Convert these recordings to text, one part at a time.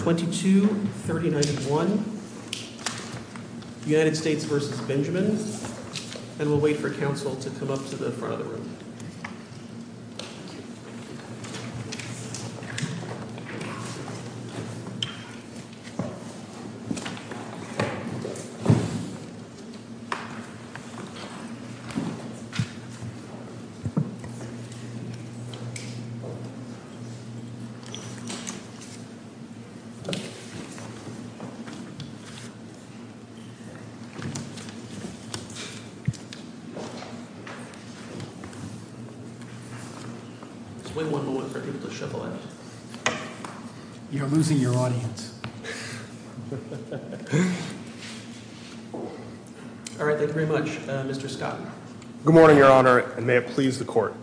22-39-1, United States v. Benjamin, and we'll wait for counsel to come up to the front of the room. It's way more than one for people to shuffle in. You're losing your audience. All right, thank you very much, Mr. Scott. Good morning, Your Honor, and may it please the court.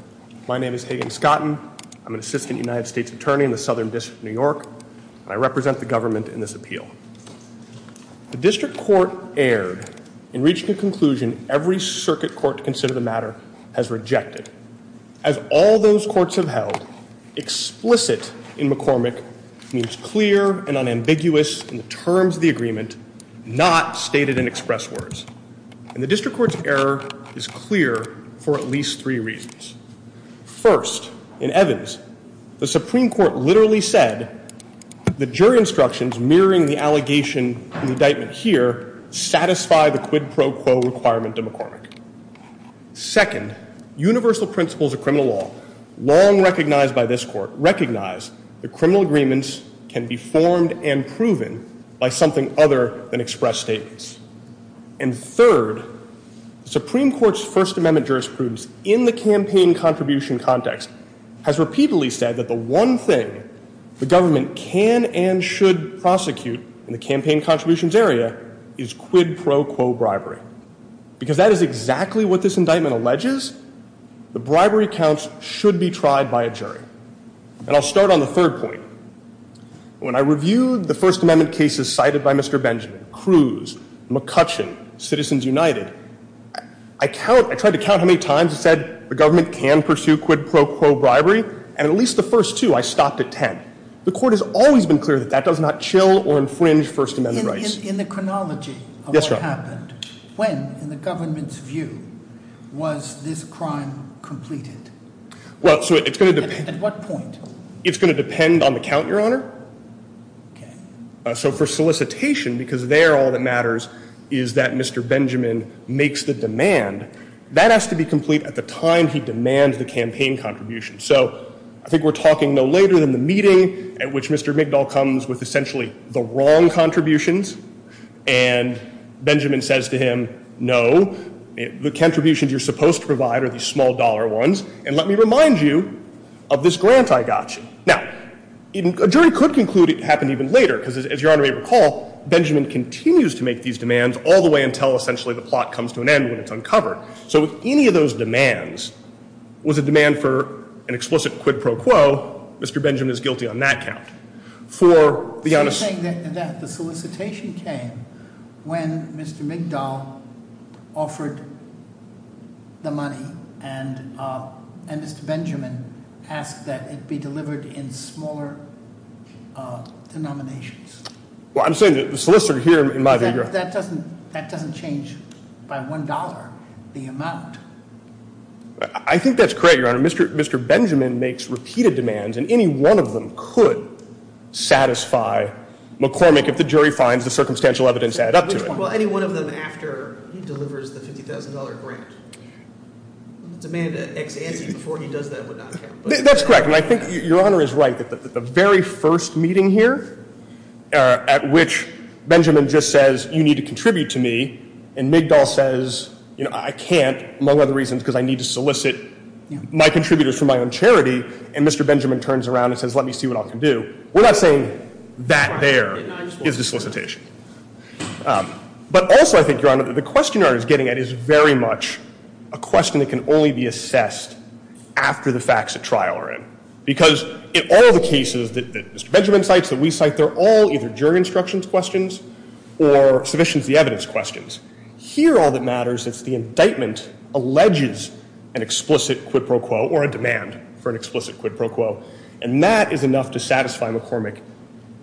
My name is Hagan Scotton. I'm an assistant United States attorney in the Southern District of New York, and I represent the government in this appeal. The district court erred in reaching a conclusion every circuit court to consider the matter has rejected. As all those courts have held, explicit in McCormick means clear and unambiguous in the terms of the agreement, not stated in express words. And the district court's error is clear for at least three reasons. First, in Evans, the Supreme Court literally said the jury instructions mirroring the allegation in the indictment here satisfy the quid pro quo requirement to McCormick. Second, universal principles of criminal law, long recognized by this court, recognize that criminal agreements can be formed and proven by something other than express statements. And third, the Supreme Court's First Amendment jurisprudence in the campaign contribution context has repeatedly said that the one thing the government can and should prosecute in the campaign contributions area is quid pro quo bribery. Because that is exactly what this indictment alleges. The bribery counts should be tried by a jury. And I'll start on the third point. When I reviewed the First Amendment cases cited by Mr. Benjamin, Cruz, McCutcheon, Citizens United, I count, I tried to count how many times it said the government can pursue quid pro quo bribery. And at least the first two, I stopped at ten. The court has always been clear that that does not chill or infringe First Amendment rights. In the chronology of what happened, when, in the government's view, was this crime completed? Well, so it's going to depend. At what point? It's going to depend on the count, Your Honor. Okay. So for solicitation, because there all that matters is that Mr. Benjamin makes the demand, that has to be complete at the time he demands the campaign contribution. So I think we're talking no later than the meeting at which Mr. McDowell comes with essentially the wrong contributions. And Benjamin says to him, no, the contributions you're supposed to provide are these small dollar ones. And let me remind you of this grant I got you. Now, a jury could conclude it happened even later, because as Your Honor may recall, Benjamin continues to make these demands all the way until essentially the plot comes to an end when it's uncovered. So if any of those demands was a demand for an explicit quid pro quo, Mr. Benjamin is guilty on that count. So you're saying that the solicitation came when Mr. McDowell offered the money and Mr. Benjamin asked that it be delivered in smaller denominations? Well, I'm saying the solicitor here, in my view. That doesn't change by $1, the amount. I think that's correct, Your Honor. Mr. Benjamin makes repeated demands, and any one of them could satisfy McCormick if the jury finds the circumstantial evidence add up to it. Well, any one of them after he delivers the $50,000 grant. The demand to ex ante before he does that would not count. That's correct. And I think Your Honor is right that the very first meeting here at which Benjamin just says you need to contribute to me, and McDowell says I can't, among other reasons, because I need to solicit my contributors for my own charity, and Mr. Benjamin turns around and says let me see what I can do, we're not saying that there is the solicitation. But also I think, Your Honor, that the question that he's getting at is very much a question that can only be assessed after the facts at trial are in. Because in all the cases that Mr. Benjamin cites, that we cite, they're all either jury instructions questions or submissions to the evidence questions. Here all that matters is the indictment alleges an explicit quid pro quo or a demand for an explicit quid pro quo, and that is enough to satisfy McCormick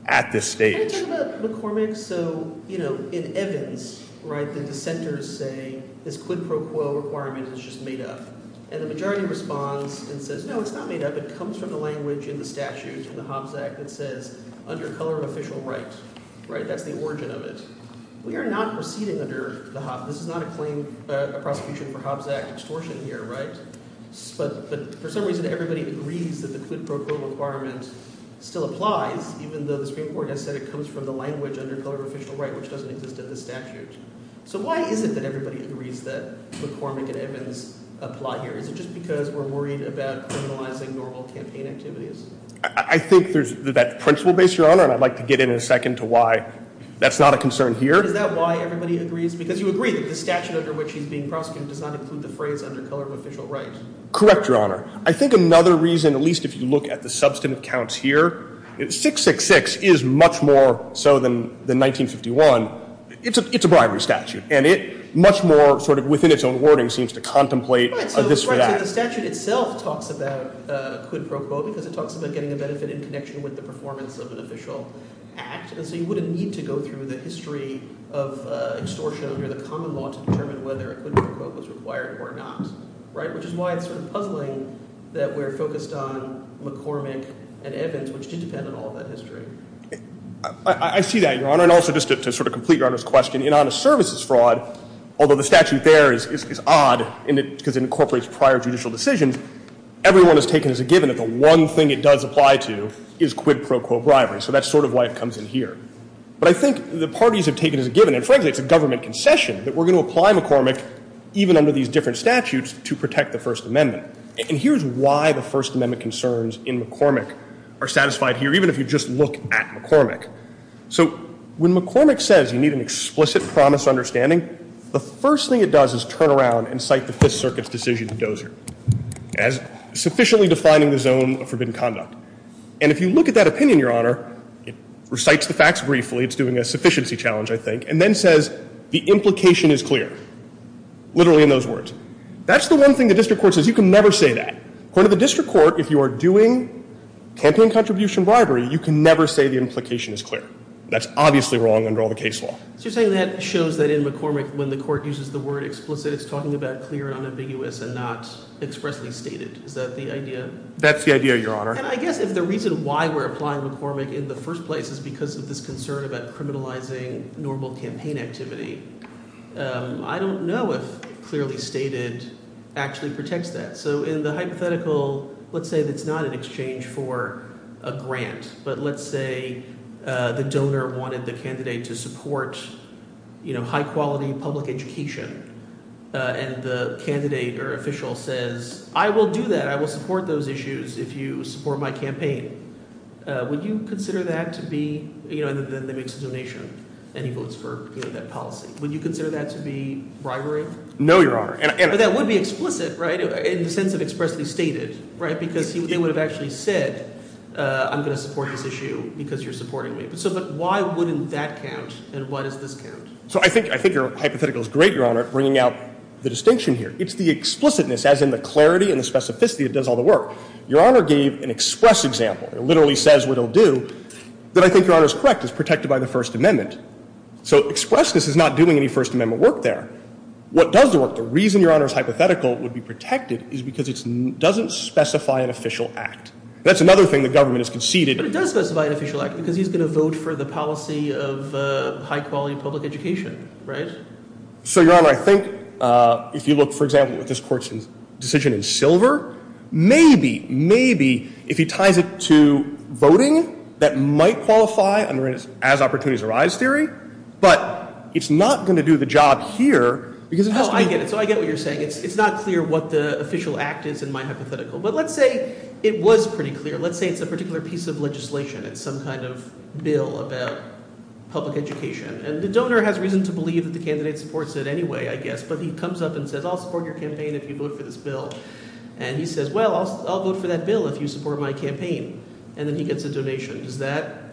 at this stage. Can you talk about McCormick? So in Evans, the dissenters say this quid pro quo requirement is just made up. And the majority responds and says no, it's not made up. It comes from the language in the statute, in the Hobbs Act, that says under color of official right. That's the origin of it. We are not proceeding under the Hobbs – this is not a prosecution for Hobbs Act extortion here. But for some reason everybody agrees that the quid pro quo requirement still applies, even though the Supreme Court has said it comes from the language under color of official right, which doesn't exist in the statute. So why is it that everybody agrees that McCormick and Evans apply here? Is it just because we're worried about criminalizing normal campaign activities? I think there's that principle base, Your Honor, and I'd like to get in a second to why that's not a concern here. Is that why everybody agrees? Because you agree that the statute under which he's being prosecuted does not include the phrase under color of official right. Correct, Your Honor. I think another reason, at least if you look at the substantive counts here, 666 is much more so than 1951. It's a bribery statute, and it much more sort of within its own wording seems to contemplate a this for that. Right, so the statute itself talks about quid pro quo because it talks about getting a benefit in connection with the performance of an official act. And so you wouldn't need to go through the history of extortion under the common law to determine whether a quid pro quo was required or not. Right, which is why it's sort of puzzling that we're focused on McCormick and Evans, which did depend on all of that history. I see that, Your Honor. And also just to sort of complete Your Honor's question, in honest services fraud, although the statute there is odd because it incorporates prior judicial decisions, everyone has taken as a given that the one thing it does apply to is quid pro quo bribery. So that's sort of why it comes in here. But I think the parties have taken as a given, and frankly it's a government concession, that we're going to apply McCormick even under these different statutes to protect the First Amendment. And here's why the First Amendment concerns in McCormick are satisfied here, even if you just look at McCormick. So when McCormick says you need an explicit promise understanding, the first thing it does is turn around and cite the Fifth Circuit's decision in Dozier as sufficiently defining the zone of forbidden conduct. And if you look at that opinion, Your Honor, it recites the facts briefly. It's doing a sufficiency challenge, I think, and then says the implication is clear, literally in those words. That's the one thing the district court says you can never say that. According to the district court, if you are doing campaign contribution bribery, you can never say the implication is clear. That's obviously wrong under all the case law. So you're saying that shows that in McCormick when the court uses the word explicit, it's talking about clear and unambiguous and not expressly stated. Is that the idea? That's the idea, Your Honor. And I guess if the reason why we're applying McCormick in the first place is because of this concern about criminalizing normal campaign activity, I don't know if clearly stated actually protects that. So in the hypothetical, let's say it's not an exchange for a grant, but let's say the donor wanted the candidate to support high quality public education. And the candidate or official says, I will do that. I will support those issues if you support my campaign. Would you consider that to be – and then they make a donation and he votes for that policy. Would you consider that to be bribery? No, Your Honor. But that would be explicit, right, in the sense of expressly stated, right, because they would have actually said, I'm going to support this issue because you're supporting me. But why wouldn't that count and why does this count? So I think your hypothetical is great, Your Honor, bringing out the distinction here. It's the explicitness, as in the clarity and the specificity that does all the work. Your Honor gave an express example. It literally says what it will do that I think Your Honor is correct is protected by the First Amendment. So expressness is not doing any First Amendment work there. What does the work? The reason Your Honor's hypothetical would be protected is because it doesn't specify an official act. That's another thing the government has conceded. But it does specify an official act because he's going to vote for the policy of high quality public education, right? So, Your Honor, I think if you look, for example, at this court's decision in Silver, maybe, maybe if he ties it to voting that might qualify under an as opportunities arise theory. But it's not going to do the job here. Oh, I get it. So I get what you're saying. It's not clear what the official act is in my hypothetical. But let's say it was pretty clear. Let's say it's a particular piece of legislation. It's some kind of bill about public education. And the donor has reason to believe that the candidate supports it anyway, I guess. But he comes up and says, I'll support your campaign if you vote for this bill. And he says, well, I'll vote for that bill if you support my campaign. And then he gets a donation. Does that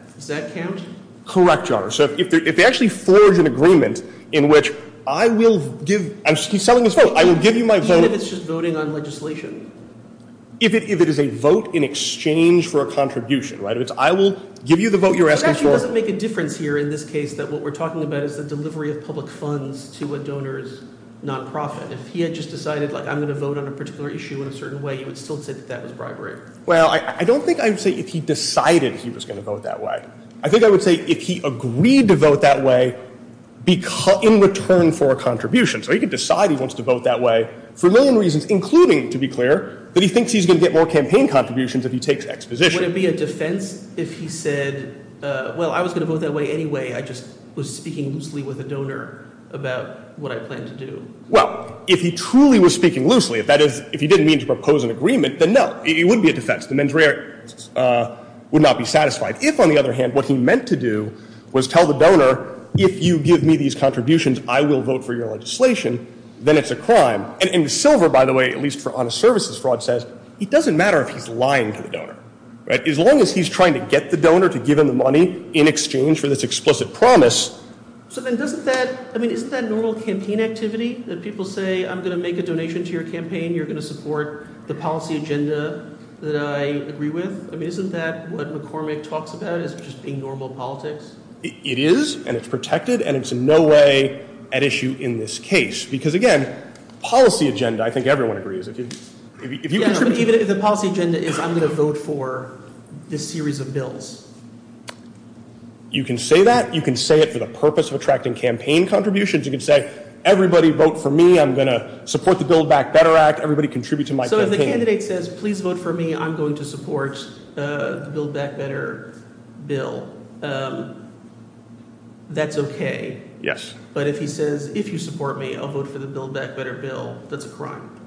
count? Correct, Your Honor. So if they actually forge an agreement in which I will give – he's selling his vote. I will give you my vote. Even if it's just voting on legislation? If it is a vote in exchange for a contribution, right? If it's I will give you the vote you're asking for. It actually doesn't make a difference here in this case that what we're talking about is the delivery of public funds to a donor's nonprofit. If he had just decided, like, I'm going to vote on a particular issue in a certain way, you would still say that that was bribery. Well, I don't think I would say if he decided he was going to vote that way. I think I would say if he agreed to vote that way in return for a contribution. So he could decide he wants to vote that way for a million reasons, including, to be clear, that he thinks he's going to get more campaign contributions if he takes exposition. Would it be a defense if he said, well, I was going to vote that way anyway. I just was speaking loosely with a donor about what I plan to do? Well, if he truly was speaking loosely, that is, if he didn't mean to propose an agreement, then no. It wouldn't be a defense. The mens rea would not be satisfied. If, on the other hand, what he meant to do was tell the donor, if you give me these contributions, I will vote for your legislation, then it's a crime. And Silver, by the way, at least for honest services fraud, says it doesn't matter if he's lying to the donor. As long as he's trying to get the donor to give him the money in exchange for this explicit promise. So then doesn't that I mean, isn't that normal campaign activity that people say I'm going to make a donation to your campaign? You're going to support the policy agenda that I agree with. I mean, isn't that what McCormick talks about? It's just being normal politics. It is. And it's protected. And it's no way at issue in this case. Because, again, policy agenda. I think everyone agrees. If you even if the policy agenda is I'm going to vote for this series of bills. You can say that. You can say it for the purpose of attracting campaign contributions. You can say everybody vote for me. I'm going to support the Build Back Better Act. Everybody contribute to my candidate says, please vote for me. I'm going to support the Build Back Better bill. That's OK. Yes. But if he says, if you support me, I'll vote for the Build Back Better bill. That's a crime.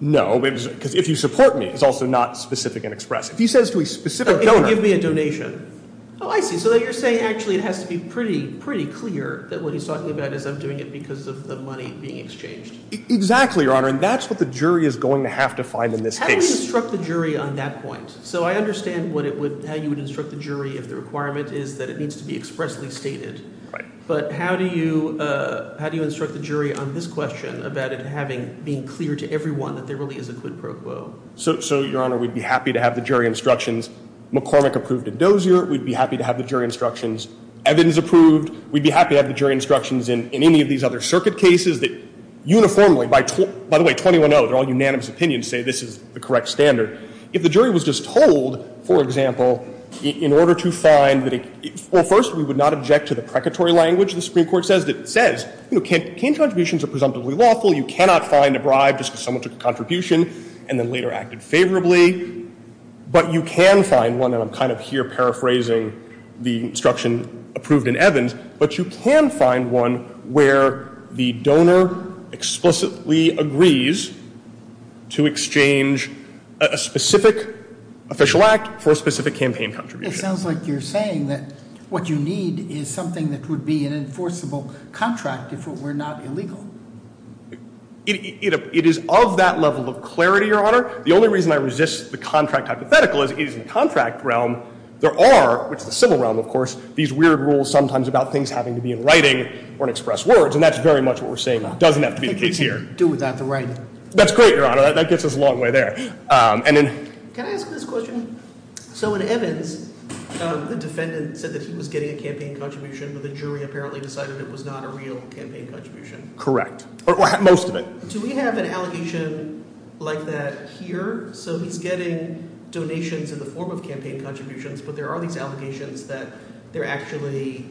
No, because if you support me, it's also not specific and express. If he says to a specific donor. Give me a donation. Oh, I see. So you're saying actually it has to be pretty, pretty clear that what he's talking about is I'm doing it because of the money being exchanged. Exactly, Your Honor. And that's what the jury is going to have to find in this case. How do you instruct the jury on that point? So I understand how you would instruct the jury if the requirement is that it needs to be expressly stated. But how do you instruct the jury on this question about it being clear to everyone that there really is a quid pro quo? So, Your Honor, we'd be happy to have the jury instructions. McCormick approved a dozier. We'd be happy to have the jury instructions. Evans approved. We'd be happy to have the jury instructions in any of these other circuit cases that uniformly, by the way, 21-0, they're all unanimous opinions, say this is the correct standard. If the jury was just told, for example, in order to find that it – well, first, we would not object to the precatory language the Supreme Court says. It says, you know, can't – can't contributions are presumptively lawful. You cannot find a bribe just because someone took a contribution and then later acted favorably. But you can find one, and I'm kind of here paraphrasing the instruction approved in Evans. But you can find one where the donor explicitly agrees to exchange a specific official act for a specific campaign contribution. It sounds like you're saying that what you need is something that would be an enforceable contract if it were not illegal. It is of that level of clarity, Your Honor. The only reason I resist the contract hypothetical is it is in the contract realm there are – which is the civil realm, of course – these weird rules sometimes about things having to be in writing or in expressed words. And that's very much what we're saying doesn't have to be the case here. I think we can do without the writing. That's great, Your Honor. That gets us a long way there. And in – Can I ask this question? So in Evans, the defendant said that he was getting a campaign contribution, but the jury apparently decided it was not a real campaign contribution. Correct. Or most of it. Do we have an allegation like that here? So he's getting donations in the form of campaign contributions, but there are these allegations that they're actually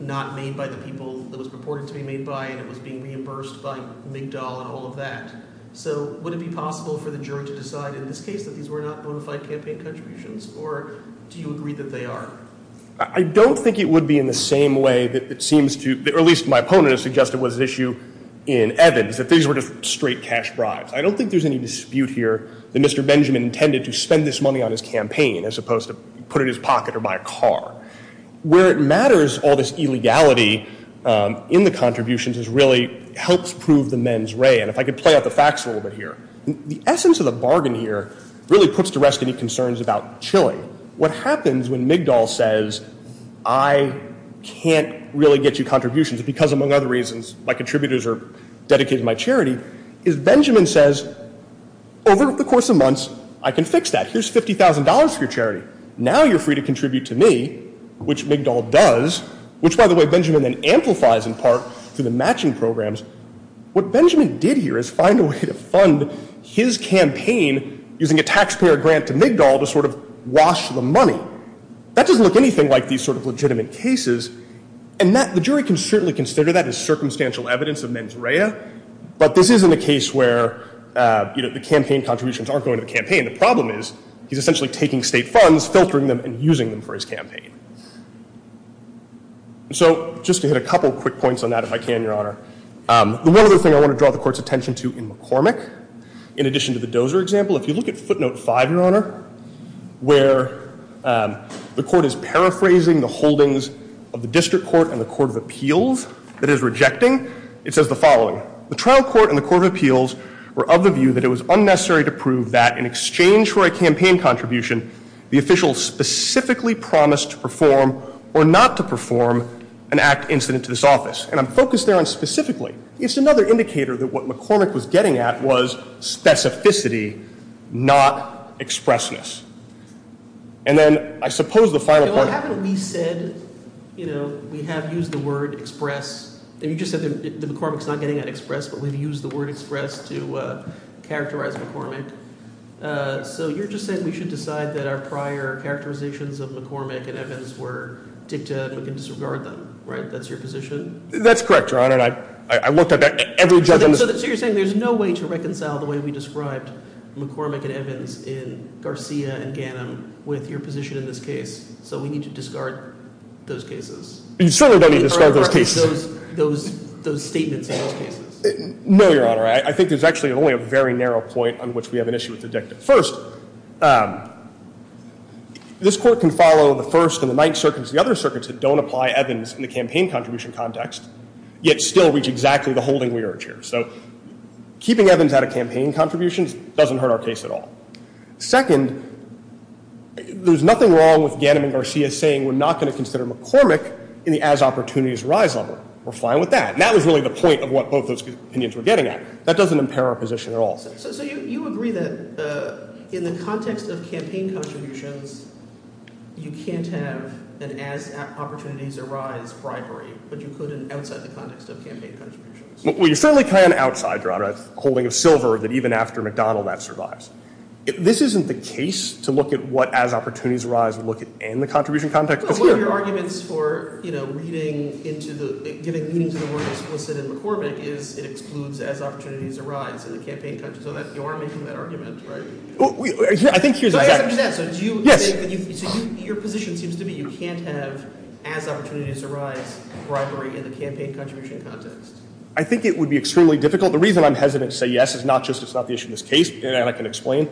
not made by the people that it was purported to be made by, and it was being reimbursed by McDowell and all of that. So would it be possible for the jury to decide in this case that these were not bona fide campaign contributions, or do you agree that they are? I don't think it would be in the same way that it seems to – or at least my opponent has suggested it was an issue in Evans, that these were just straight cash bribes. I don't think there's any dispute here that Mr. Benjamin intended to spend this money on his campaign as opposed to put it in his pocket or buy a car. Where it matters, all this illegality in the contributions really helps prove the men's ray. And if I could play out the facts a little bit here, the essence of the bargain here really puts to rest any concerns about Chile. What happens when McDowell says, I can't really get you contributions because, among other reasons, my contributors are dedicated to my charity, is Benjamin says, over the course of months, I can fix that. Here's $50,000 for your charity. Now you're free to contribute to me, which McDowell does, which, by the way, Benjamin then amplifies in part through the matching programs. What Benjamin did here is find a way to fund his campaign using a taxpayer grant to McDowell to sort of wash the money. That doesn't look anything like these sort of legitimate cases. And the jury can certainly consider that as circumstantial evidence of men's ray, but this isn't a case where the campaign contributions aren't going to the campaign. The problem is he's essentially taking state funds, filtering them, and using them for his campaign. So just to hit a couple quick points on that, if I can, Your Honor. The one other thing I want to draw the court's attention to in McCormick, in addition to the Dozer example, if you look at footnote five, Your Honor, where the court is paraphrasing the holdings of the district court and the court of appeals that it is rejecting, it says the following. The trial court and the court of appeals were of the view that it was unnecessary to prove that in exchange for a campaign contribution, the official specifically promised to perform or not to perform an act incident to this office. And I'm focused there on specifically. It's another indicator that what McCormick was getting at was specificity, not expressness. And then I suppose the final point. Well, haven't we said, you know, we have used the word express. You just said that McCormick's not getting an express, but we've used the word express to characterize McCormick. So you're just saying we should decide that our prior characterizations of McCormick and Evans were dicta and we can disregard them, right? That's your position? That's correct, Your Honor. I looked at every judgment. So you're saying there's no way to reconcile the way we described McCormick and Evans in Garcia and Gannon with your position in this case. So we need to discard those cases. You certainly don't need to discard those cases. Those statements in those cases. No, Your Honor. I think there's actually only a very narrow point on which we have an issue with the dicta. First, this Court can follow the First and the Ninth Circuits and the other circuits that don't apply Evans in the campaign contribution context, yet still reach exactly the holding we urge here. So keeping Evans out of campaign contributions doesn't hurt our case at all. Second, there's nothing wrong with Gannon and Garcia saying we're not going to consider McCormick in the as-opportunities rise order. We're fine with that. And that was really the point of what both those opinions were getting at. That doesn't impair our position at all. So you agree that in the context of campaign contributions, you can't have an as-opportunities-arise bribery, but you could outside the context of campaign contributions? Well, you certainly can outside, Your Honor, a holding of silver that even after McDonnell that survives. This isn't the case to look at what as-opportunities-arise would look in the contribution context. One of your arguments for, you know, reading into the – giving meaning to the word explicit in McCormick is it excludes as-opportunities-arise in the campaign context. So you are making that argument, right? I think here's – So do you – Yes. So your position seems to be you can't have as-opportunities-arise bribery in the campaign contribution context. I think it would be extremely difficult. The reason I'm hesitant to say yes is not just it's not the issue in this case, and I can explain.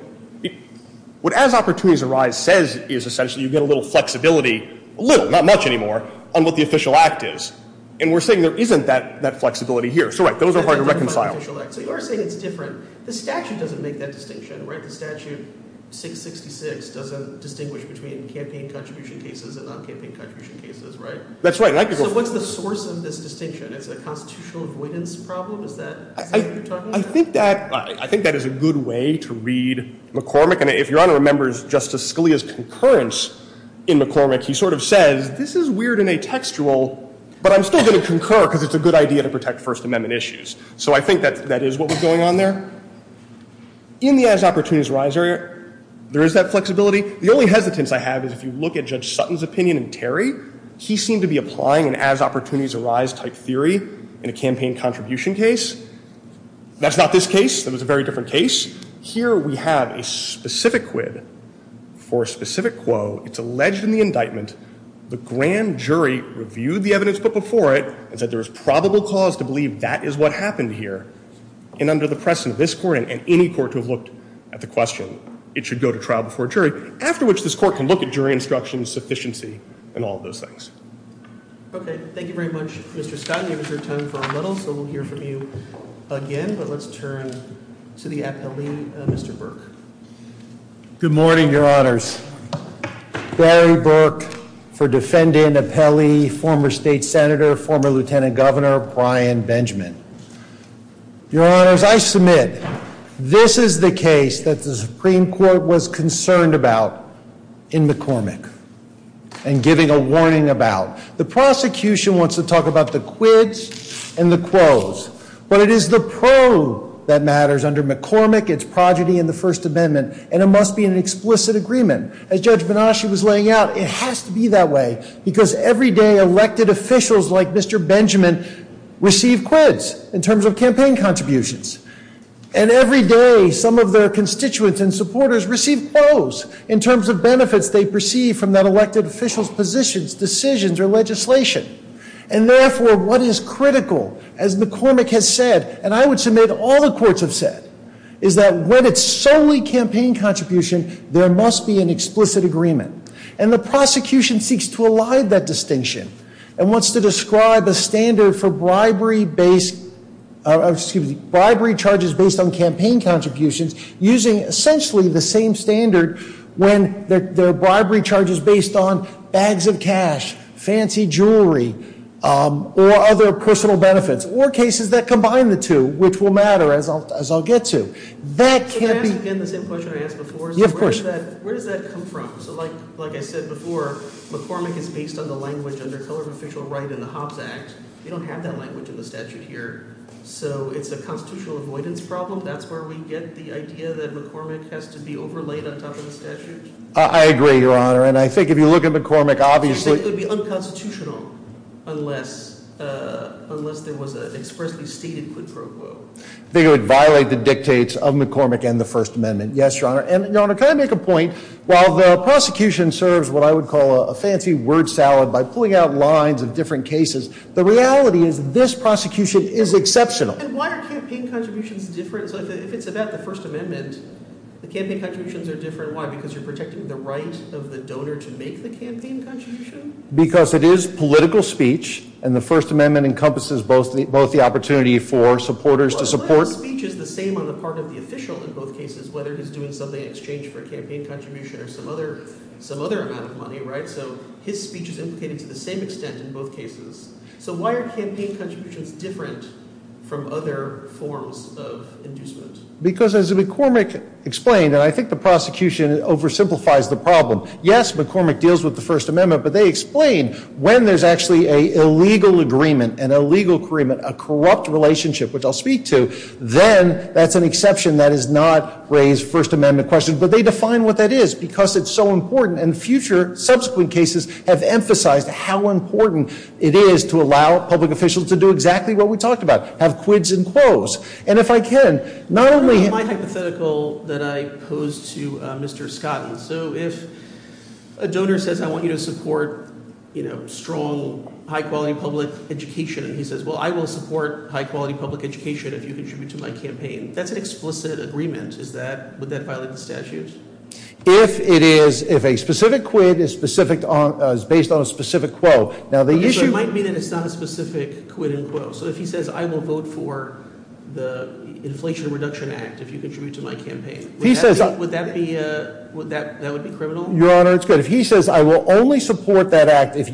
What as-opportunities-arise says is essentially you get a little flexibility – a little, not much anymore – on what the official act is. And we're saying there isn't that flexibility here. So, right, those are hard to reconcile. So you are saying it's different. The statute doesn't make that distinction, right? The statute 666 doesn't distinguish between campaign contribution cases and non-campaign contribution cases, right? That's right. So what's the source of this distinction? Is it a constitutional avoidance problem? Is that what you're talking about? I think that is a good way to read McCormick. And if Your Honor remembers Justice Scalia's concurrence in McCormick, he sort of says this is weird and atextual, but I'm still going to concur because it's a good idea to protect First Amendment issues. So I think that is what was going on there. In the as-opportunities-arise area, there is that flexibility. The only hesitance I have is if you look at Judge Sutton's opinion in Terry, he seemed to be applying an as-opportunities-arise type theory in a campaign contribution case. That's not this case. That was a very different case. Here we have a specific quid for a specific quo. It's alleged in the indictment. The grand jury reviewed the evidence put before it and said there is probable cause to believe that is what happened here. And under the precedent of this Court and any court to have looked at the question, it should go to trial before a jury, after which this Court can look at jury instruction, sufficiency, and all of those things. Okay. Thank you very much, Mr. Scott. You reserved time for a little, so we'll hear from you again. But let's turn to the appellee, Mr. Burke. Good morning, Your Honors. Barry Burke for defendant, appellee, former state senator, former lieutenant governor, Brian Benjamin. Your Honors, I submit this is the case that the Supreme Court was concerned about in McCormick and giving a warning about. The prosecution wants to talk about the quids and the quos. But it is the pro that matters under McCormick, its progeny in the First Amendment, and it must be an explicit agreement. As Judge Banasch was laying out, it has to be that way because every day elected officials like Mr. Benjamin receive quids in terms of campaign contributions. And every day some of their constituents and supporters receive quos in terms of benefits they perceive from that elected official's positions, decisions, or legislation. And therefore, what is critical, as McCormick has said, and I would submit all the courts have said, is that when it's solely campaign contribution, there must be an explicit agreement. And the prosecution seeks to elide that distinction and wants to describe a standard for bribery charges based on campaign contributions using essentially the same standard when there are bribery charges based on bags of cash, fancy jewelry, or other personal benefits, or cases that combine the two, which will matter as I'll get to. That can't be- Can I ask again the same question I asked before? Yeah, of course. Where does that come from? So like I said before, McCormick is based on the language under color of official right in the Hobbs Act. We don't have that language in the statute here. So it's a constitutional avoidance problem. That's where we get the idea that McCormick has to be overlaid on top of the statute. I agree, Your Honor. And I think if you look at McCormick, obviously- I think it would be unconstitutional unless there was an expressly stated quid pro quo. I think it would violate the dictates of McCormick and the First Amendment. Yes, Your Honor. And Your Honor, can I make a point? While the prosecution serves what I would call a fancy word salad by pulling out lines of different cases, the reality is this prosecution is exceptional. And why are campaign contributions different? So if it's about the First Amendment, the campaign contributions are different. Why? Because you're protecting the right of the donor to make the campaign contribution? Because it is political speech, and the First Amendment encompasses both the opportunity for supporters to support- Well, political speech is the same on the part of the official in both cases, whether he's doing something in exchange for a campaign contribution or some other amount of money, right? So his speech is implicated to the same extent in both cases. So why are campaign contributions different from other forms of inducement? Because as McCormick explained, and I think the prosecution oversimplifies the problem, yes, McCormick deals with the First Amendment, but they explain when there's actually an illegal agreement, an illegal agreement, a corrupt relationship, which I'll speak to, then that's an exception that is not raised First Amendment questions. But they define what that is because it's so important. And future subsequent cases have emphasized how important it is to allow public officials to do exactly what we talked about, have quids and quos. And if I can, not only- My hypothetical that I pose to Mr. Scott, so if a donor says, I want you to support strong, high-quality public education, and he says, well, I will support high-quality public education if you contribute to my campaign, that's an explicit agreement. Would that violate the statutes? If it is, if a specific quid is based on a specific quo, now the issue- But it might mean that it's not a specific quid and quo. So if he says, I will vote for the Inflation Reduction Act if you contribute to my campaign, would that be criminal? Your Honor, it's good. If he says, I will only support that act if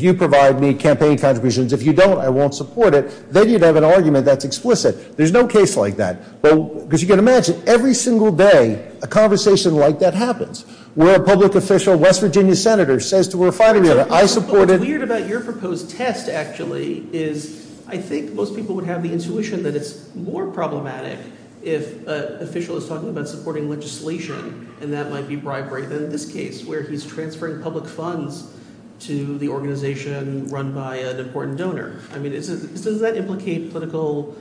you provide me campaign contributions. If you don't, I won't support it, then you'd have an argument that's explicit. There's no case like that. Because you can imagine, every single day, a conversation like that happens. Where a public official, West Virginia Senator, says to a fighting dealer, I support it- What's weird about your proposed test, actually, is I think most people would have the intuition that it's more problematic if an official is talking about supporting legislation, and that might be bribery than in this case, where he's transferring public funds to the organization run by an important donor. I mean, does that implicate political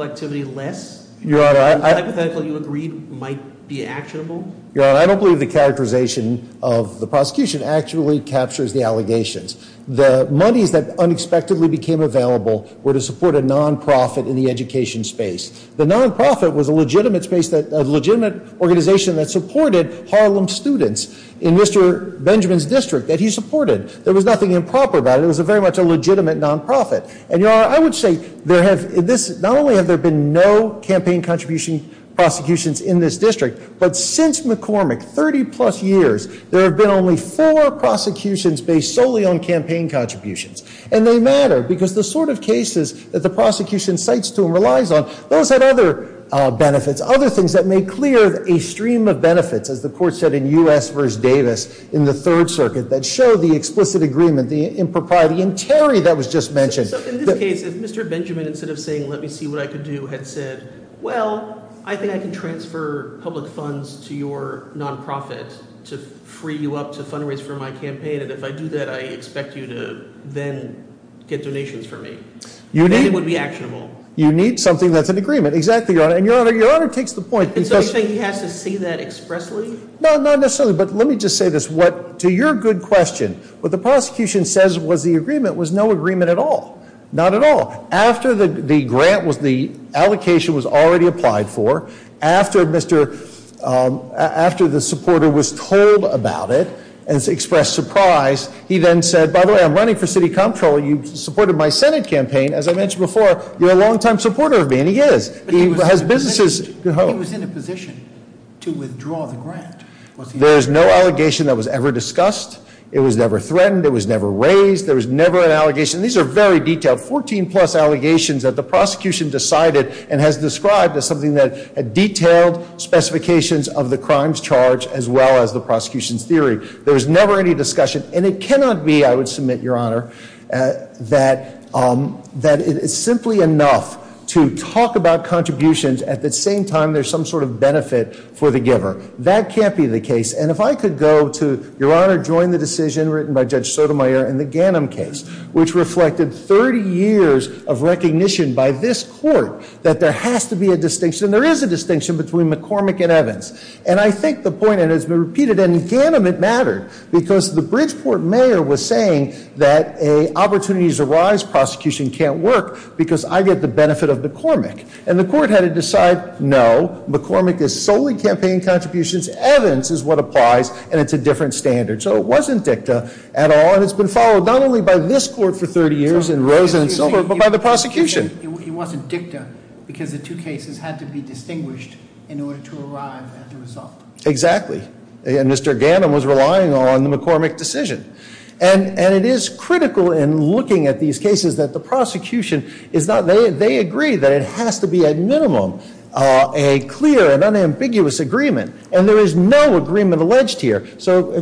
activity less? Your Honor, I- The hypothetical you agreed might be actionable? Your Honor, I don't believe the characterization of the prosecution actually captures the allegations. The monies that unexpectedly became available were to support a non-profit in the education space. The non-profit was a legitimate organization that supported Harlem students in Mr. Benjamin's district, that he supported. There was nothing improper about it. It was very much a legitimate non-profit. And, Your Honor, I would say there have- Not only have there been no campaign contribution prosecutions in this district, but since McCormick, 30 plus years, there have been only four prosecutions based solely on campaign contributions. And they matter, because the sort of cases that the prosecution cites to and relies on, those have other benefits, other things that may clear a stream of benefits, as the court said in U.S. v. Davis in the Third Circuit, that show the explicit agreement, the impropriety. And, Terry, that was just mentioned. So, in this case, if Mr. Benjamin, instead of saying, let me see what I can do, had said, well, I think I can transfer public funds to your non-profit to free you up to fundraise for my campaign, and if I do that, I expect you to then get donations for me. You need- Then it would be actionable. You need something that's an agreement. Exactly, Your Honor. And, Your Honor, Your Honor takes the point. So, you're saying he has to see that expressly? No, not necessarily. But let me just say this. To your good question, what the prosecution says was the agreement was no agreement at all. Not at all. After the grant, the allocation was already applied for, after the supporter was told about it and expressed surprise, he then said, by the way, I'm running for city comptroller. You supported my Senate campaign. As I mentioned before, you're a longtime supporter of me, and he is. But he was in a position to withdraw the grant. There is no allegation that was ever discussed. It was never threatened. It was never raised. There was never an allegation. These are very detailed, 14-plus allegations that the prosecution decided and has described as something that detailed specifications of the crimes charge as well as the prosecution's theory. There was never any discussion, and it cannot be, I would submit, Your Honor, that it is simply enough to talk about contributions at the same time there's some sort of benefit for the giver. That can't be the case. And if I could go to, Your Honor, join the decision written by Judge Sotomayor in the Ganim case, which reflected 30 years of recognition by this court that there has to be a distinction, and there is a distinction between McCormick and Evans. And I think the point, and it's been repeated, and in Ganim it mattered because the Bridgeport mayor was saying that a opportunities arise prosecution can't work because I get the benefit of McCormick. And the court had to decide no, McCormick is solely campaign contributions, Evans is what applies, and it's a different standard. So it wasn't dicta at all, and it's been followed not only by this court for 30 years and Rosen and Silver, but by the prosecution. It wasn't dicta because the two cases had to be distinguished in order to arrive at the result. Exactly. And Mr. Ganim was relying on the McCormick decision. And it is critical in looking at these cases that the prosecution, they agree that it has to be at minimum a clear and unambiguous agreement. And there is no agreement alleged here. So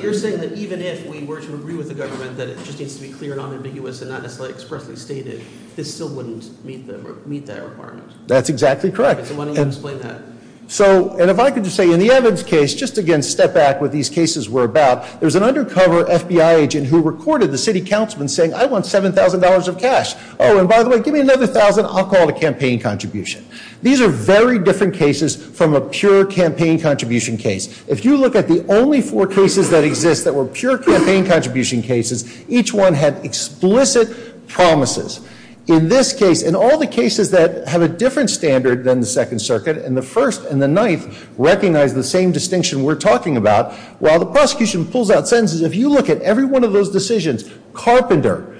you're saying that even if we were to agree with the government that it just needs to be clear and unambiguous and not necessarily expressly stated, this still wouldn't meet that requirement? That's exactly correct. So why don't you explain that? So, and if I could just say, in the Evans case, just again step back what these cases were about, there's an undercover FBI agent who recorded the city councilman saying, I want $7,000 of cash. Oh, and by the way, give me another $1,000, I'll call it a campaign contribution. These are very different cases from a pure campaign contribution case. If you look at the only four cases that exist that were pure campaign contribution cases, each one had explicit promises. In this case, in all the cases that have a different standard than the Second Circuit, and the First and the Ninth recognize the same distinction we're talking about, while the prosecution pulls out sentences, if you look at every one of those decisions, Carpenter,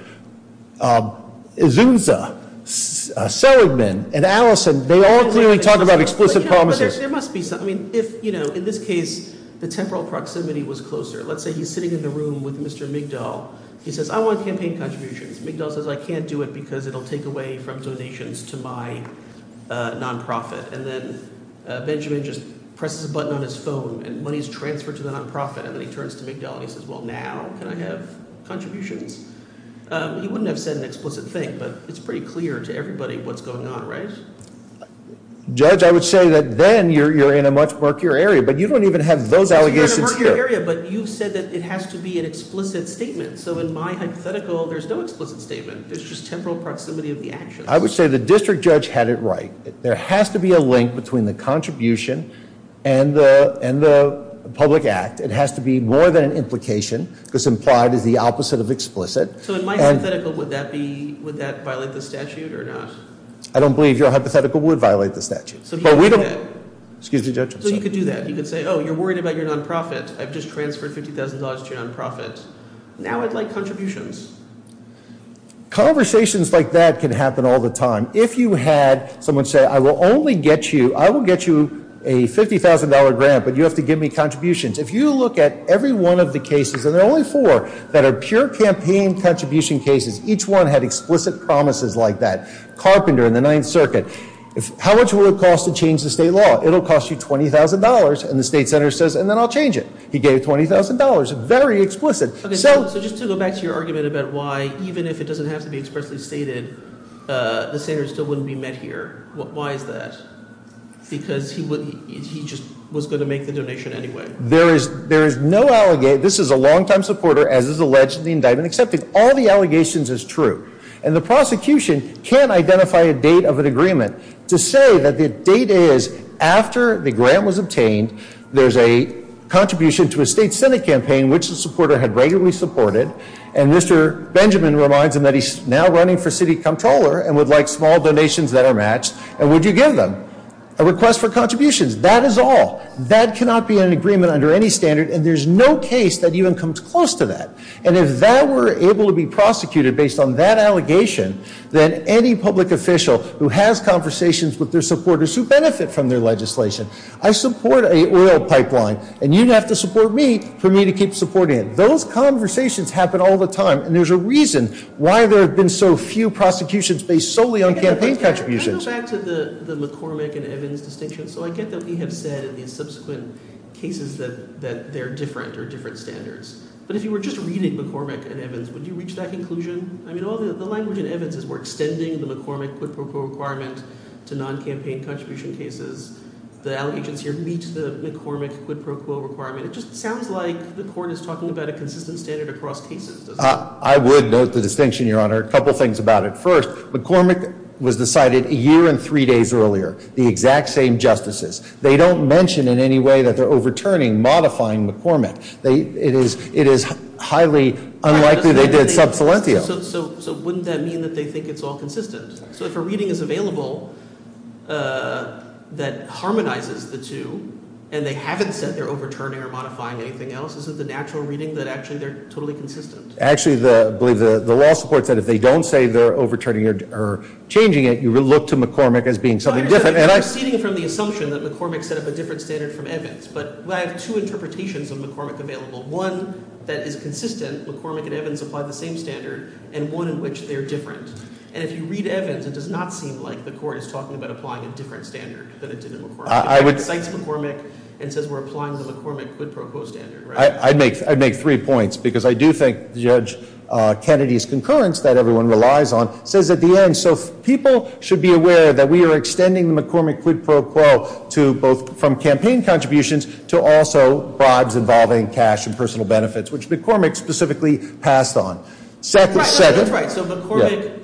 Izunza, Seligman, and Allison, they all clearly talk about explicit promises. But there must be some, I mean, if, you know, in this case, the temporal proximity was closer. Let's say he's sitting in the room with Mr. Migdal. He says, I want campaign contributions. Migdal says, I can't do it because it will take away from donations to my nonprofit. And then Benjamin just presses a button on his phone, and money is transferred to the nonprofit. And then he turns to Migdal, and he says, well, now can I have contributions? He wouldn't have said an explicit thing, but it's pretty clear to everybody what's going on, right? Judge, I would say that then you're in a much murkier area, but you don't even have those allegations here. You're in a murkier area, but you've said that it has to be an explicit statement. So in my hypothetical, there's no explicit statement. There's just temporal proximity of the actions. I would say the district judge had it right. There has to be a link between the contribution and the public act. It has to be more than an implication because implied is the opposite of explicit. So in my hypothetical, would that violate the statute or not? I don't believe your hypothetical would violate the statute. So you could do that. You could say, oh, you're worried about your nonprofit. I've just transferred $50,000 to your nonprofit. Now I'd like contributions. Conversations like that can happen all the time. If you had someone say, I will only get you, I will get you a $50,000 grant, but you have to give me contributions. If you look at every one of the cases, and there are only four that are pure campaign contribution cases, each one had explicit promises like that. Carpenter in the Ninth Circuit, how much would it cost to change the state law? It'll cost you $20,000. And the state senator says, and then I'll change it. He gave $20,000, very explicit. So just to go back to your argument about why, even if it doesn't have to be expressly stated, the senator still wouldn't be met here. Why is that? Because he just was going to make the donation anyway. There is no allegation. This is a longtime supporter, as is alleged in the indictment, accepting all the allegations as true. And the prosecution can't identify a date of an agreement to say that the date is after the grant was obtained, there's a contribution to a state senate campaign which the supporter had regularly supported, and Mr. Benjamin reminds him that he's now running for city comptroller and would like small donations that are matched, and would you give them a request for contributions? That is all. That cannot be an agreement under any standard, and there's no case that even comes close to that. And if that were able to be prosecuted based on that allegation, then any public official who has conversations with their supporters who benefit from their legislation, I support an oil pipeline, and you'd have to support me for me to keep supporting it. Those conversations happen all the time, and there's a reason why there have been so few prosecutions based solely on campaign contributions. Can I go back to the McCormick and Evans distinction? So I get that we have said in the subsequent cases that they're different or different standards, but if you were just reading McCormick and Evans, would you reach that conclusion? I mean, the language in Evans is we're extending the McCormick quid pro quo requirement to non-campaign contribution cases. The allegations here meet the McCormick quid pro quo requirement. It just sounds like the court is talking about a consistent standard across cases, doesn't it? I would note the distinction, Your Honor. A couple things about it. First, McCormick was decided a year and three days earlier, the exact same justices. They don't mention in any way that they're overturning, modifying McCormick. It is highly unlikely they did sub salientio. So wouldn't that mean that they think it's all consistent? So if a reading is available that harmonizes the two and they haven't said they're overturning or modifying anything else, is it the natural reading that actually they're totally consistent? Actually, I believe the law supports that if they don't say they're overturning or changing it, you look to McCormick as being something different. You're proceeding from the assumption that McCormick set up a different standard from Evans. But I have two interpretations of McCormick available. One that is consistent, McCormick and Evans apply the same standard, and one in which they're different. And if you read Evans, it does not seem like the court is talking about applying a different standard than it did in McCormick. It cites McCormick and says we're applying the McCormick quid pro quo standard. I'd make three points because I do think Judge Kennedy's concurrence that everyone relies on says at the end, so people should be aware that we are extending the McCormick quid pro quo to both from campaign contributions to also bribes involving cash and personal benefits, which McCormick specifically passed on. That's right. So McCormick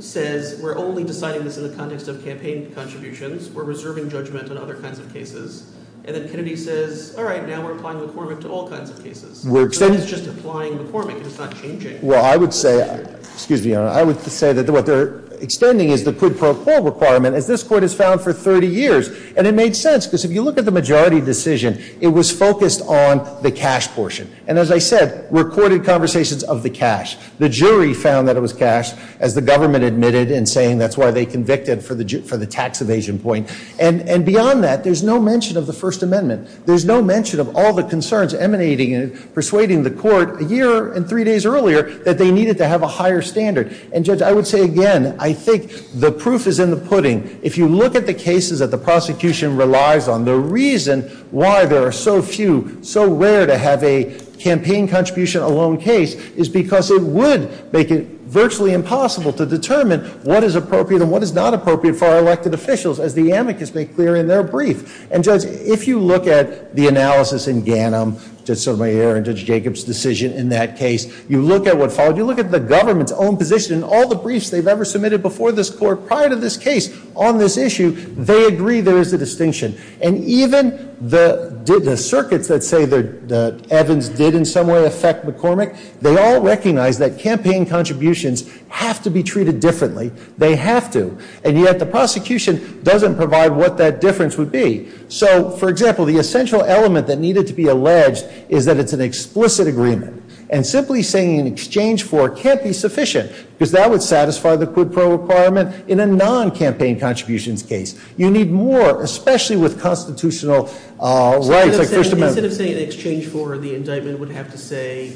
says we're only deciding this in the context of campaign contributions. We're reserving judgment on other kinds of cases. And then Kennedy says, all right, now we're applying McCormick to all kinds of cases. So that's just applying McCormick. It's not changing. Well, I would say that what they're extending is the quid pro quo requirement, as this court has found for 30 years. And it made sense because if you look at the majority decision, it was focused on the cash portion. And as I said, recorded conversations of the cash. The jury found that it was cash, as the government admitted in saying that's why they convicted for the tax evasion point. And beyond that, there's no mention of the First Amendment. There's no mention of all the concerns emanating and persuading the court a year and three days earlier that they needed to have a higher standard. And, Judge, I would say again, I think the proof is in the pudding. If you look at the cases that the prosecution relies on, the reason why there are so few, so rare to have a campaign contribution alone case is because it would make it virtually impossible to determine what is appropriate and what is not appropriate for our elected officials, as the amicus made clear in their brief. And, Judge, if you look at the analysis in Ganim, Judge Sotomayor and Judge Jacobs' decision in that case, you look at what followed, you look at the government's own position, all the briefs they've ever submitted before this court prior to this case on this issue, they agree there is a distinction. And even the circuits that say the Evans did in some way affect McCormick, they all recognize that campaign contributions have to be treated differently. They have to. And yet the prosecution doesn't provide what that difference would be. So, for example, the essential element that needed to be alleged is that it's an explicit agreement. And simply saying an exchange for can't be sufficient, because that would satisfy the quid pro requirement in a non-campaign contributions case. You need more, especially with constitutional rights like first amendment. Instead of saying an exchange for, the indictment would have to say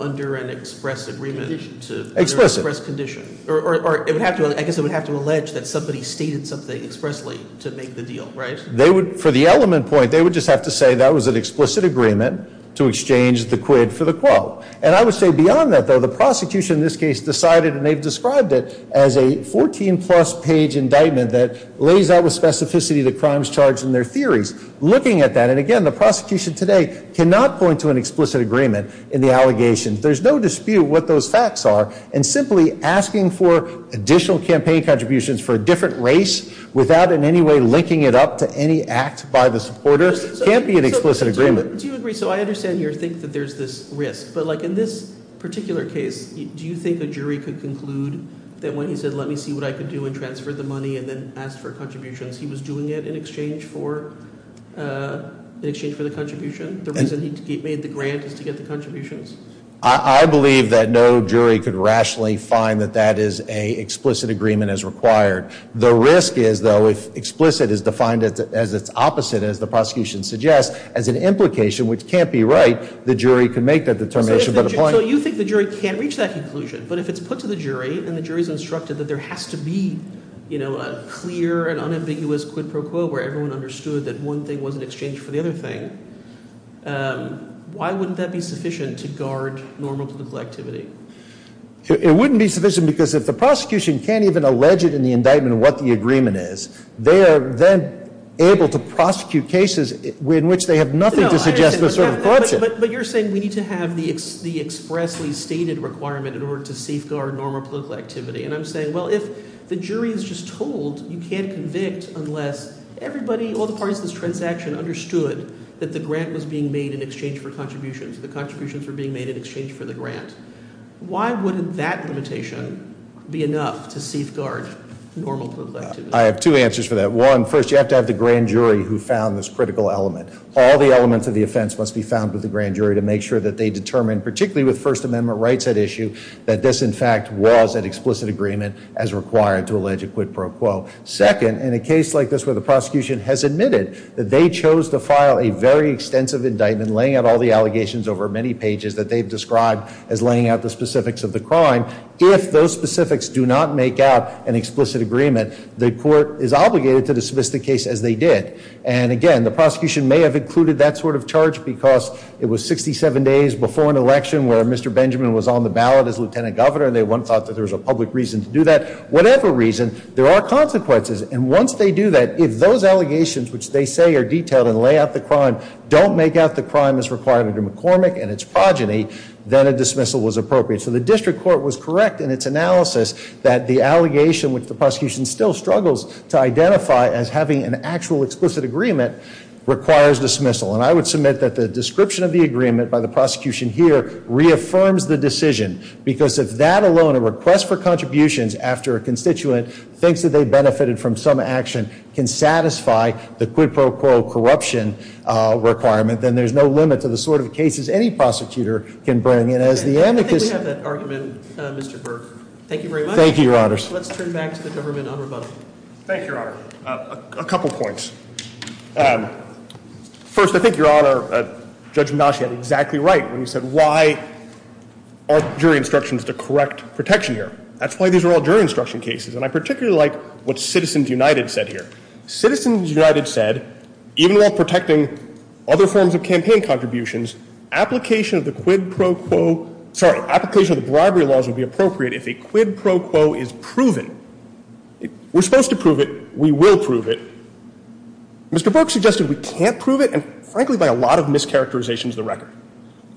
under an express agreement to- Explicit. Express condition. Or it would have to, I guess it would have to allege that somebody stated something expressly to make the deal, right? They would, for the element point, they would just have to say that was an explicit agreement to exchange the quid for the quote. And I would say beyond that, though, the prosecution in this case decided, and they've described it as a 14-plus page indictment that lays out with specificity the crimes charged in their theories. Looking at that, and again, the prosecution today cannot point to an explicit agreement in the allegations. There's no dispute what those facts are. And simply asking for additional campaign contributions for a different race without in any way linking it up to any act by the supporter can't be an explicit agreement. Do you agree? So I understand your think that there's this risk, but like in this particular case, do you think a jury could conclude that when he said let me see what I could do and transfer the money and then ask for contributions, he was doing it in exchange for the contribution? The reason he made the grant is to get the contributions? I believe that no jury could rationally find that that is an explicit agreement as required. The risk is, though, if explicit is defined as its opposite, as the prosecution suggests, as an implication which can't be right, the jury can make that determination. So you think the jury can't reach that conclusion? But if it's put to the jury and the jury's instructed that there has to be, you know, a clear and unambiguous quid pro quo where everyone understood that one thing wasn't exchanged for the other thing, why wouldn't that be sufficient to guard normal political activity? It wouldn't be sufficient because if the prosecution can't even allege it in the indictment what the agreement is, they are then able to prosecute cases in which they have nothing to suggest the sort of corruption. But you're saying we need to have the expressly stated requirement in order to safeguard normal political activity. And I'm saying, well, if the jury is just told you can't convict unless everybody, all the parties in this transaction understood that the grant was being made in exchange for contributions, the contributions were being made in exchange for the grant, why wouldn't that limitation be enough to safeguard normal political activity? I have two answers for that. One, first, you have to have the grand jury who found this critical element. All the elements of the offense must be found with the grand jury to make sure that they determine, particularly with First Amendment rights at issue, that this, in fact, was an explicit agreement as required to allege a quid pro quo. Second, in a case like this where the prosecution has admitted that they chose to file a very extensive indictment, laying out all the allegations over many pages that they've described as laying out the specifics of the crime, if those specifics do not make out an explicit agreement, the court is obligated to dismiss the case as they did. And, again, the prosecution may have included that sort of charge because it was 67 days before an election where Mr. Benjamin was on the ballot as lieutenant governor and they, one, thought that there was a public reason to do that. Whatever reason, there are consequences. And once they do that, if those allegations, which they say are detailed and lay out the crime, don't make out the crime as required under McCormick and its progeny, then a dismissal was appropriate. So the district court was correct in its analysis that the allegation, which the prosecution still struggles to identify as having an actual explicit agreement, requires dismissal. And I would submit that the description of the agreement by the prosecution here reaffirms the decision because if that alone, a request for contributions after a constituent thinks that they benefited from some action, can satisfy the quid pro quo corruption requirement, then there's no limit to the sort of cases any prosecutor can bring. And as the amicus- I think we have that argument, Mr. Burke. Thank you very much. Thank you, Your Honors. Let's turn back to the government on rebuttal. Thank you, Your Honor. A couple points. First, I think, Your Honor, Judge Mnuchin was exactly right when he said, why aren't jury instructions the correct protection here? That's why these are all jury instruction cases. And I particularly like what Citizens United said here. Citizens United said, even while protecting other forms of campaign contributions, application of the quid pro quo- sorry, application of the bribery laws would be appropriate if a quid pro quo is proven. We're supposed to prove it. We will prove it. Mr. Burke suggested we can't prove it, and frankly, by a lot of mischaracterizations of the record.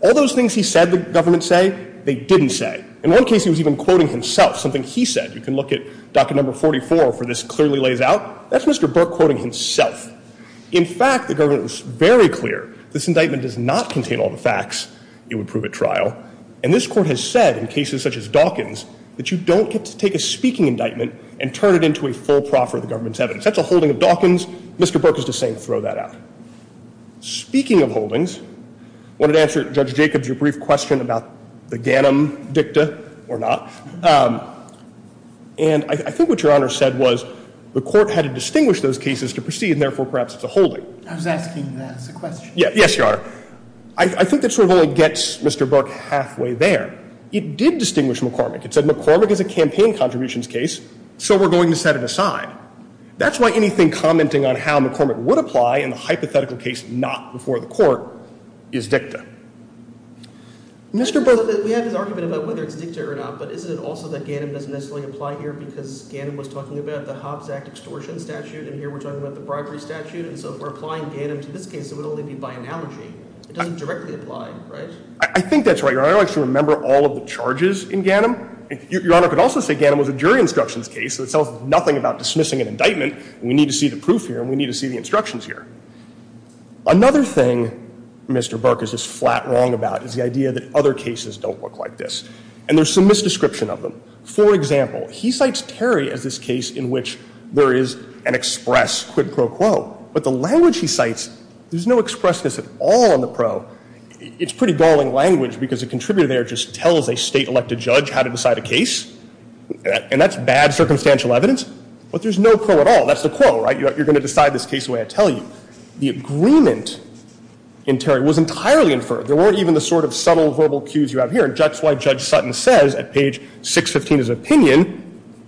All those things he said the government say, they didn't say. In one case, he was even quoting himself. Something he said. You can look at docket number 44 where this clearly lays out. That's Mr. Burke quoting himself. In fact, the government was very clear this indictment does not contain all the facts. It would prove at trial. And this Court has said, in cases such as Dawkins, that you don't get to take a speaking indictment and turn it into a full proffer of the government's evidence. That's a holding of Dawkins. Mr. Burke is just saying throw that out. Speaking of holdings, I wanted to answer Judge Jacobs' brief question about the Ganim dicta or not. And I think what Your Honor said was the Court had to distinguish those cases to proceed, and therefore perhaps it's a holding. I was asking that as a question. Yes, Your Honor. I think that sort of only gets Mr. Burke halfway there. It did distinguish McCormick. That's why anything commenting on how McCormick would apply in the hypothetical case not before the Court is dicta. Mr. Burke. We have this argument about whether it's dicta or not, but isn't it also that Ganim doesn't necessarily apply here because Ganim was talking about the Hobbs Act extortion statute, and here we're talking about the bribery statute. And so if we're applying Ganim to this case, it would only be by analogy. It doesn't directly apply, right? I think that's right, Your Honor. I don't actually remember all of the charges in Ganim. Your Honor could also say Ganim was a jury instructions case, so it tells nothing about dismissing an indictment. We need to see the proof here, and we need to see the instructions here. Another thing Mr. Burke is just flat wrong about is the idea that other cases don't look like this. And there's some misdescription of them. For example, he cites Terry as this case in which there is an express quid pro quo, but the language he cites, there's no expressness at all in the pro. It's pretty galling language because the contributor there just tells a state-elected judge how to decide a case, and that's bad circumstantial evidence, but there's no pro at all. That's the quo, right? You're going to decide this case the way I tell you. The agreement in Terry was entirely inferred. There weren't even the sort of subtle verbal cues you have here, and that's why Judge Sutton says at page 615 of his opinion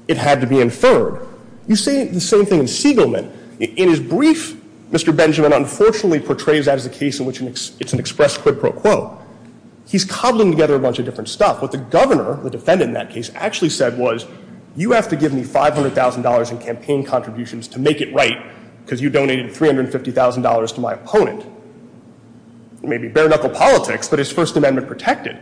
it had to be inferred. You say the same thing in Siegelman. In his brief, Mr. Benjamin unfortunately portrays that as a case in which it's an express quid pro quo. He's cobbling together a bunch of different stuff. What the governor, the defendant in that case, actually said was, you have to give me $500,000 in campaign contributions to make it right because you donated $350,000 to my opponent. Maybe bare-knuckle politics, but his First Amendment protected.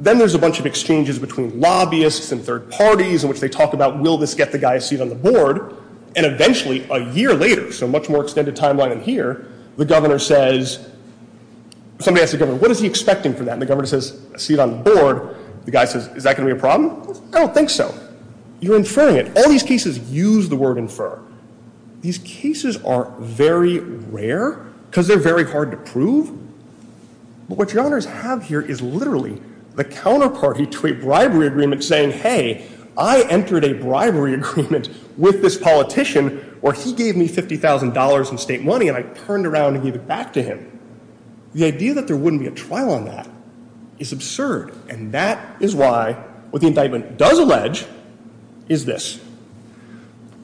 Then there's a bunch of exchanges between lobbyists and third parties in which they talk about will this get the guy a seat on the board, and eventually a year later, so a much more extended timeline than here, the governor says, somebody asks the governor, what is he expecting from that? And the governor says, a seat on the board. The guy says, is that going to be a problem? I don't think so. You're inferring it. All these cases use the word infer. These cases are very rare because they're very hard to prove. But what your honors have here is literally the counterparty to a bribery agreement saying, hey, I entered a bribery agreement with this politician where he gave me $50,000 in state money and I turned around and gave it back to him. The idea that there wouldn't be a trial on that is absurd, and that is why what the indictment does allege is this.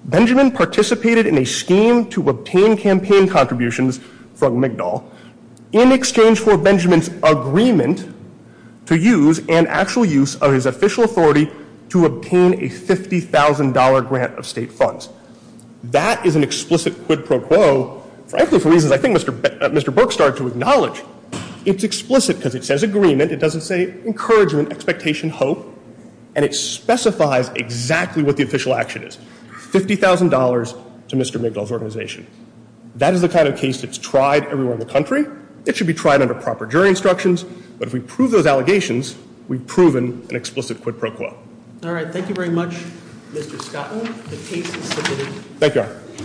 Benjamin participated in a scheme to obtain campaign contributions from McDowell in exchange for Benjamin's agreement to use and actual use of his official authority to obtain a $50,000 grant of state funds. That is an explicit quid pro quo, frankly, for reasons I think Mr. Burke started to acknowledge. It's explicit because it says agreement. It doesn't say encouragement, expectation, hope, and it specifies exactly what the official action is, $50,000 to Mr. McDowell's organization. That is the kind of case that's tried everywhere in the country. It should be tried under proper jury instructions, but if we prove those allegations, we've proven an explicit quid pro quo. All right. Thank you very much, Mr. Scotton. Thank you.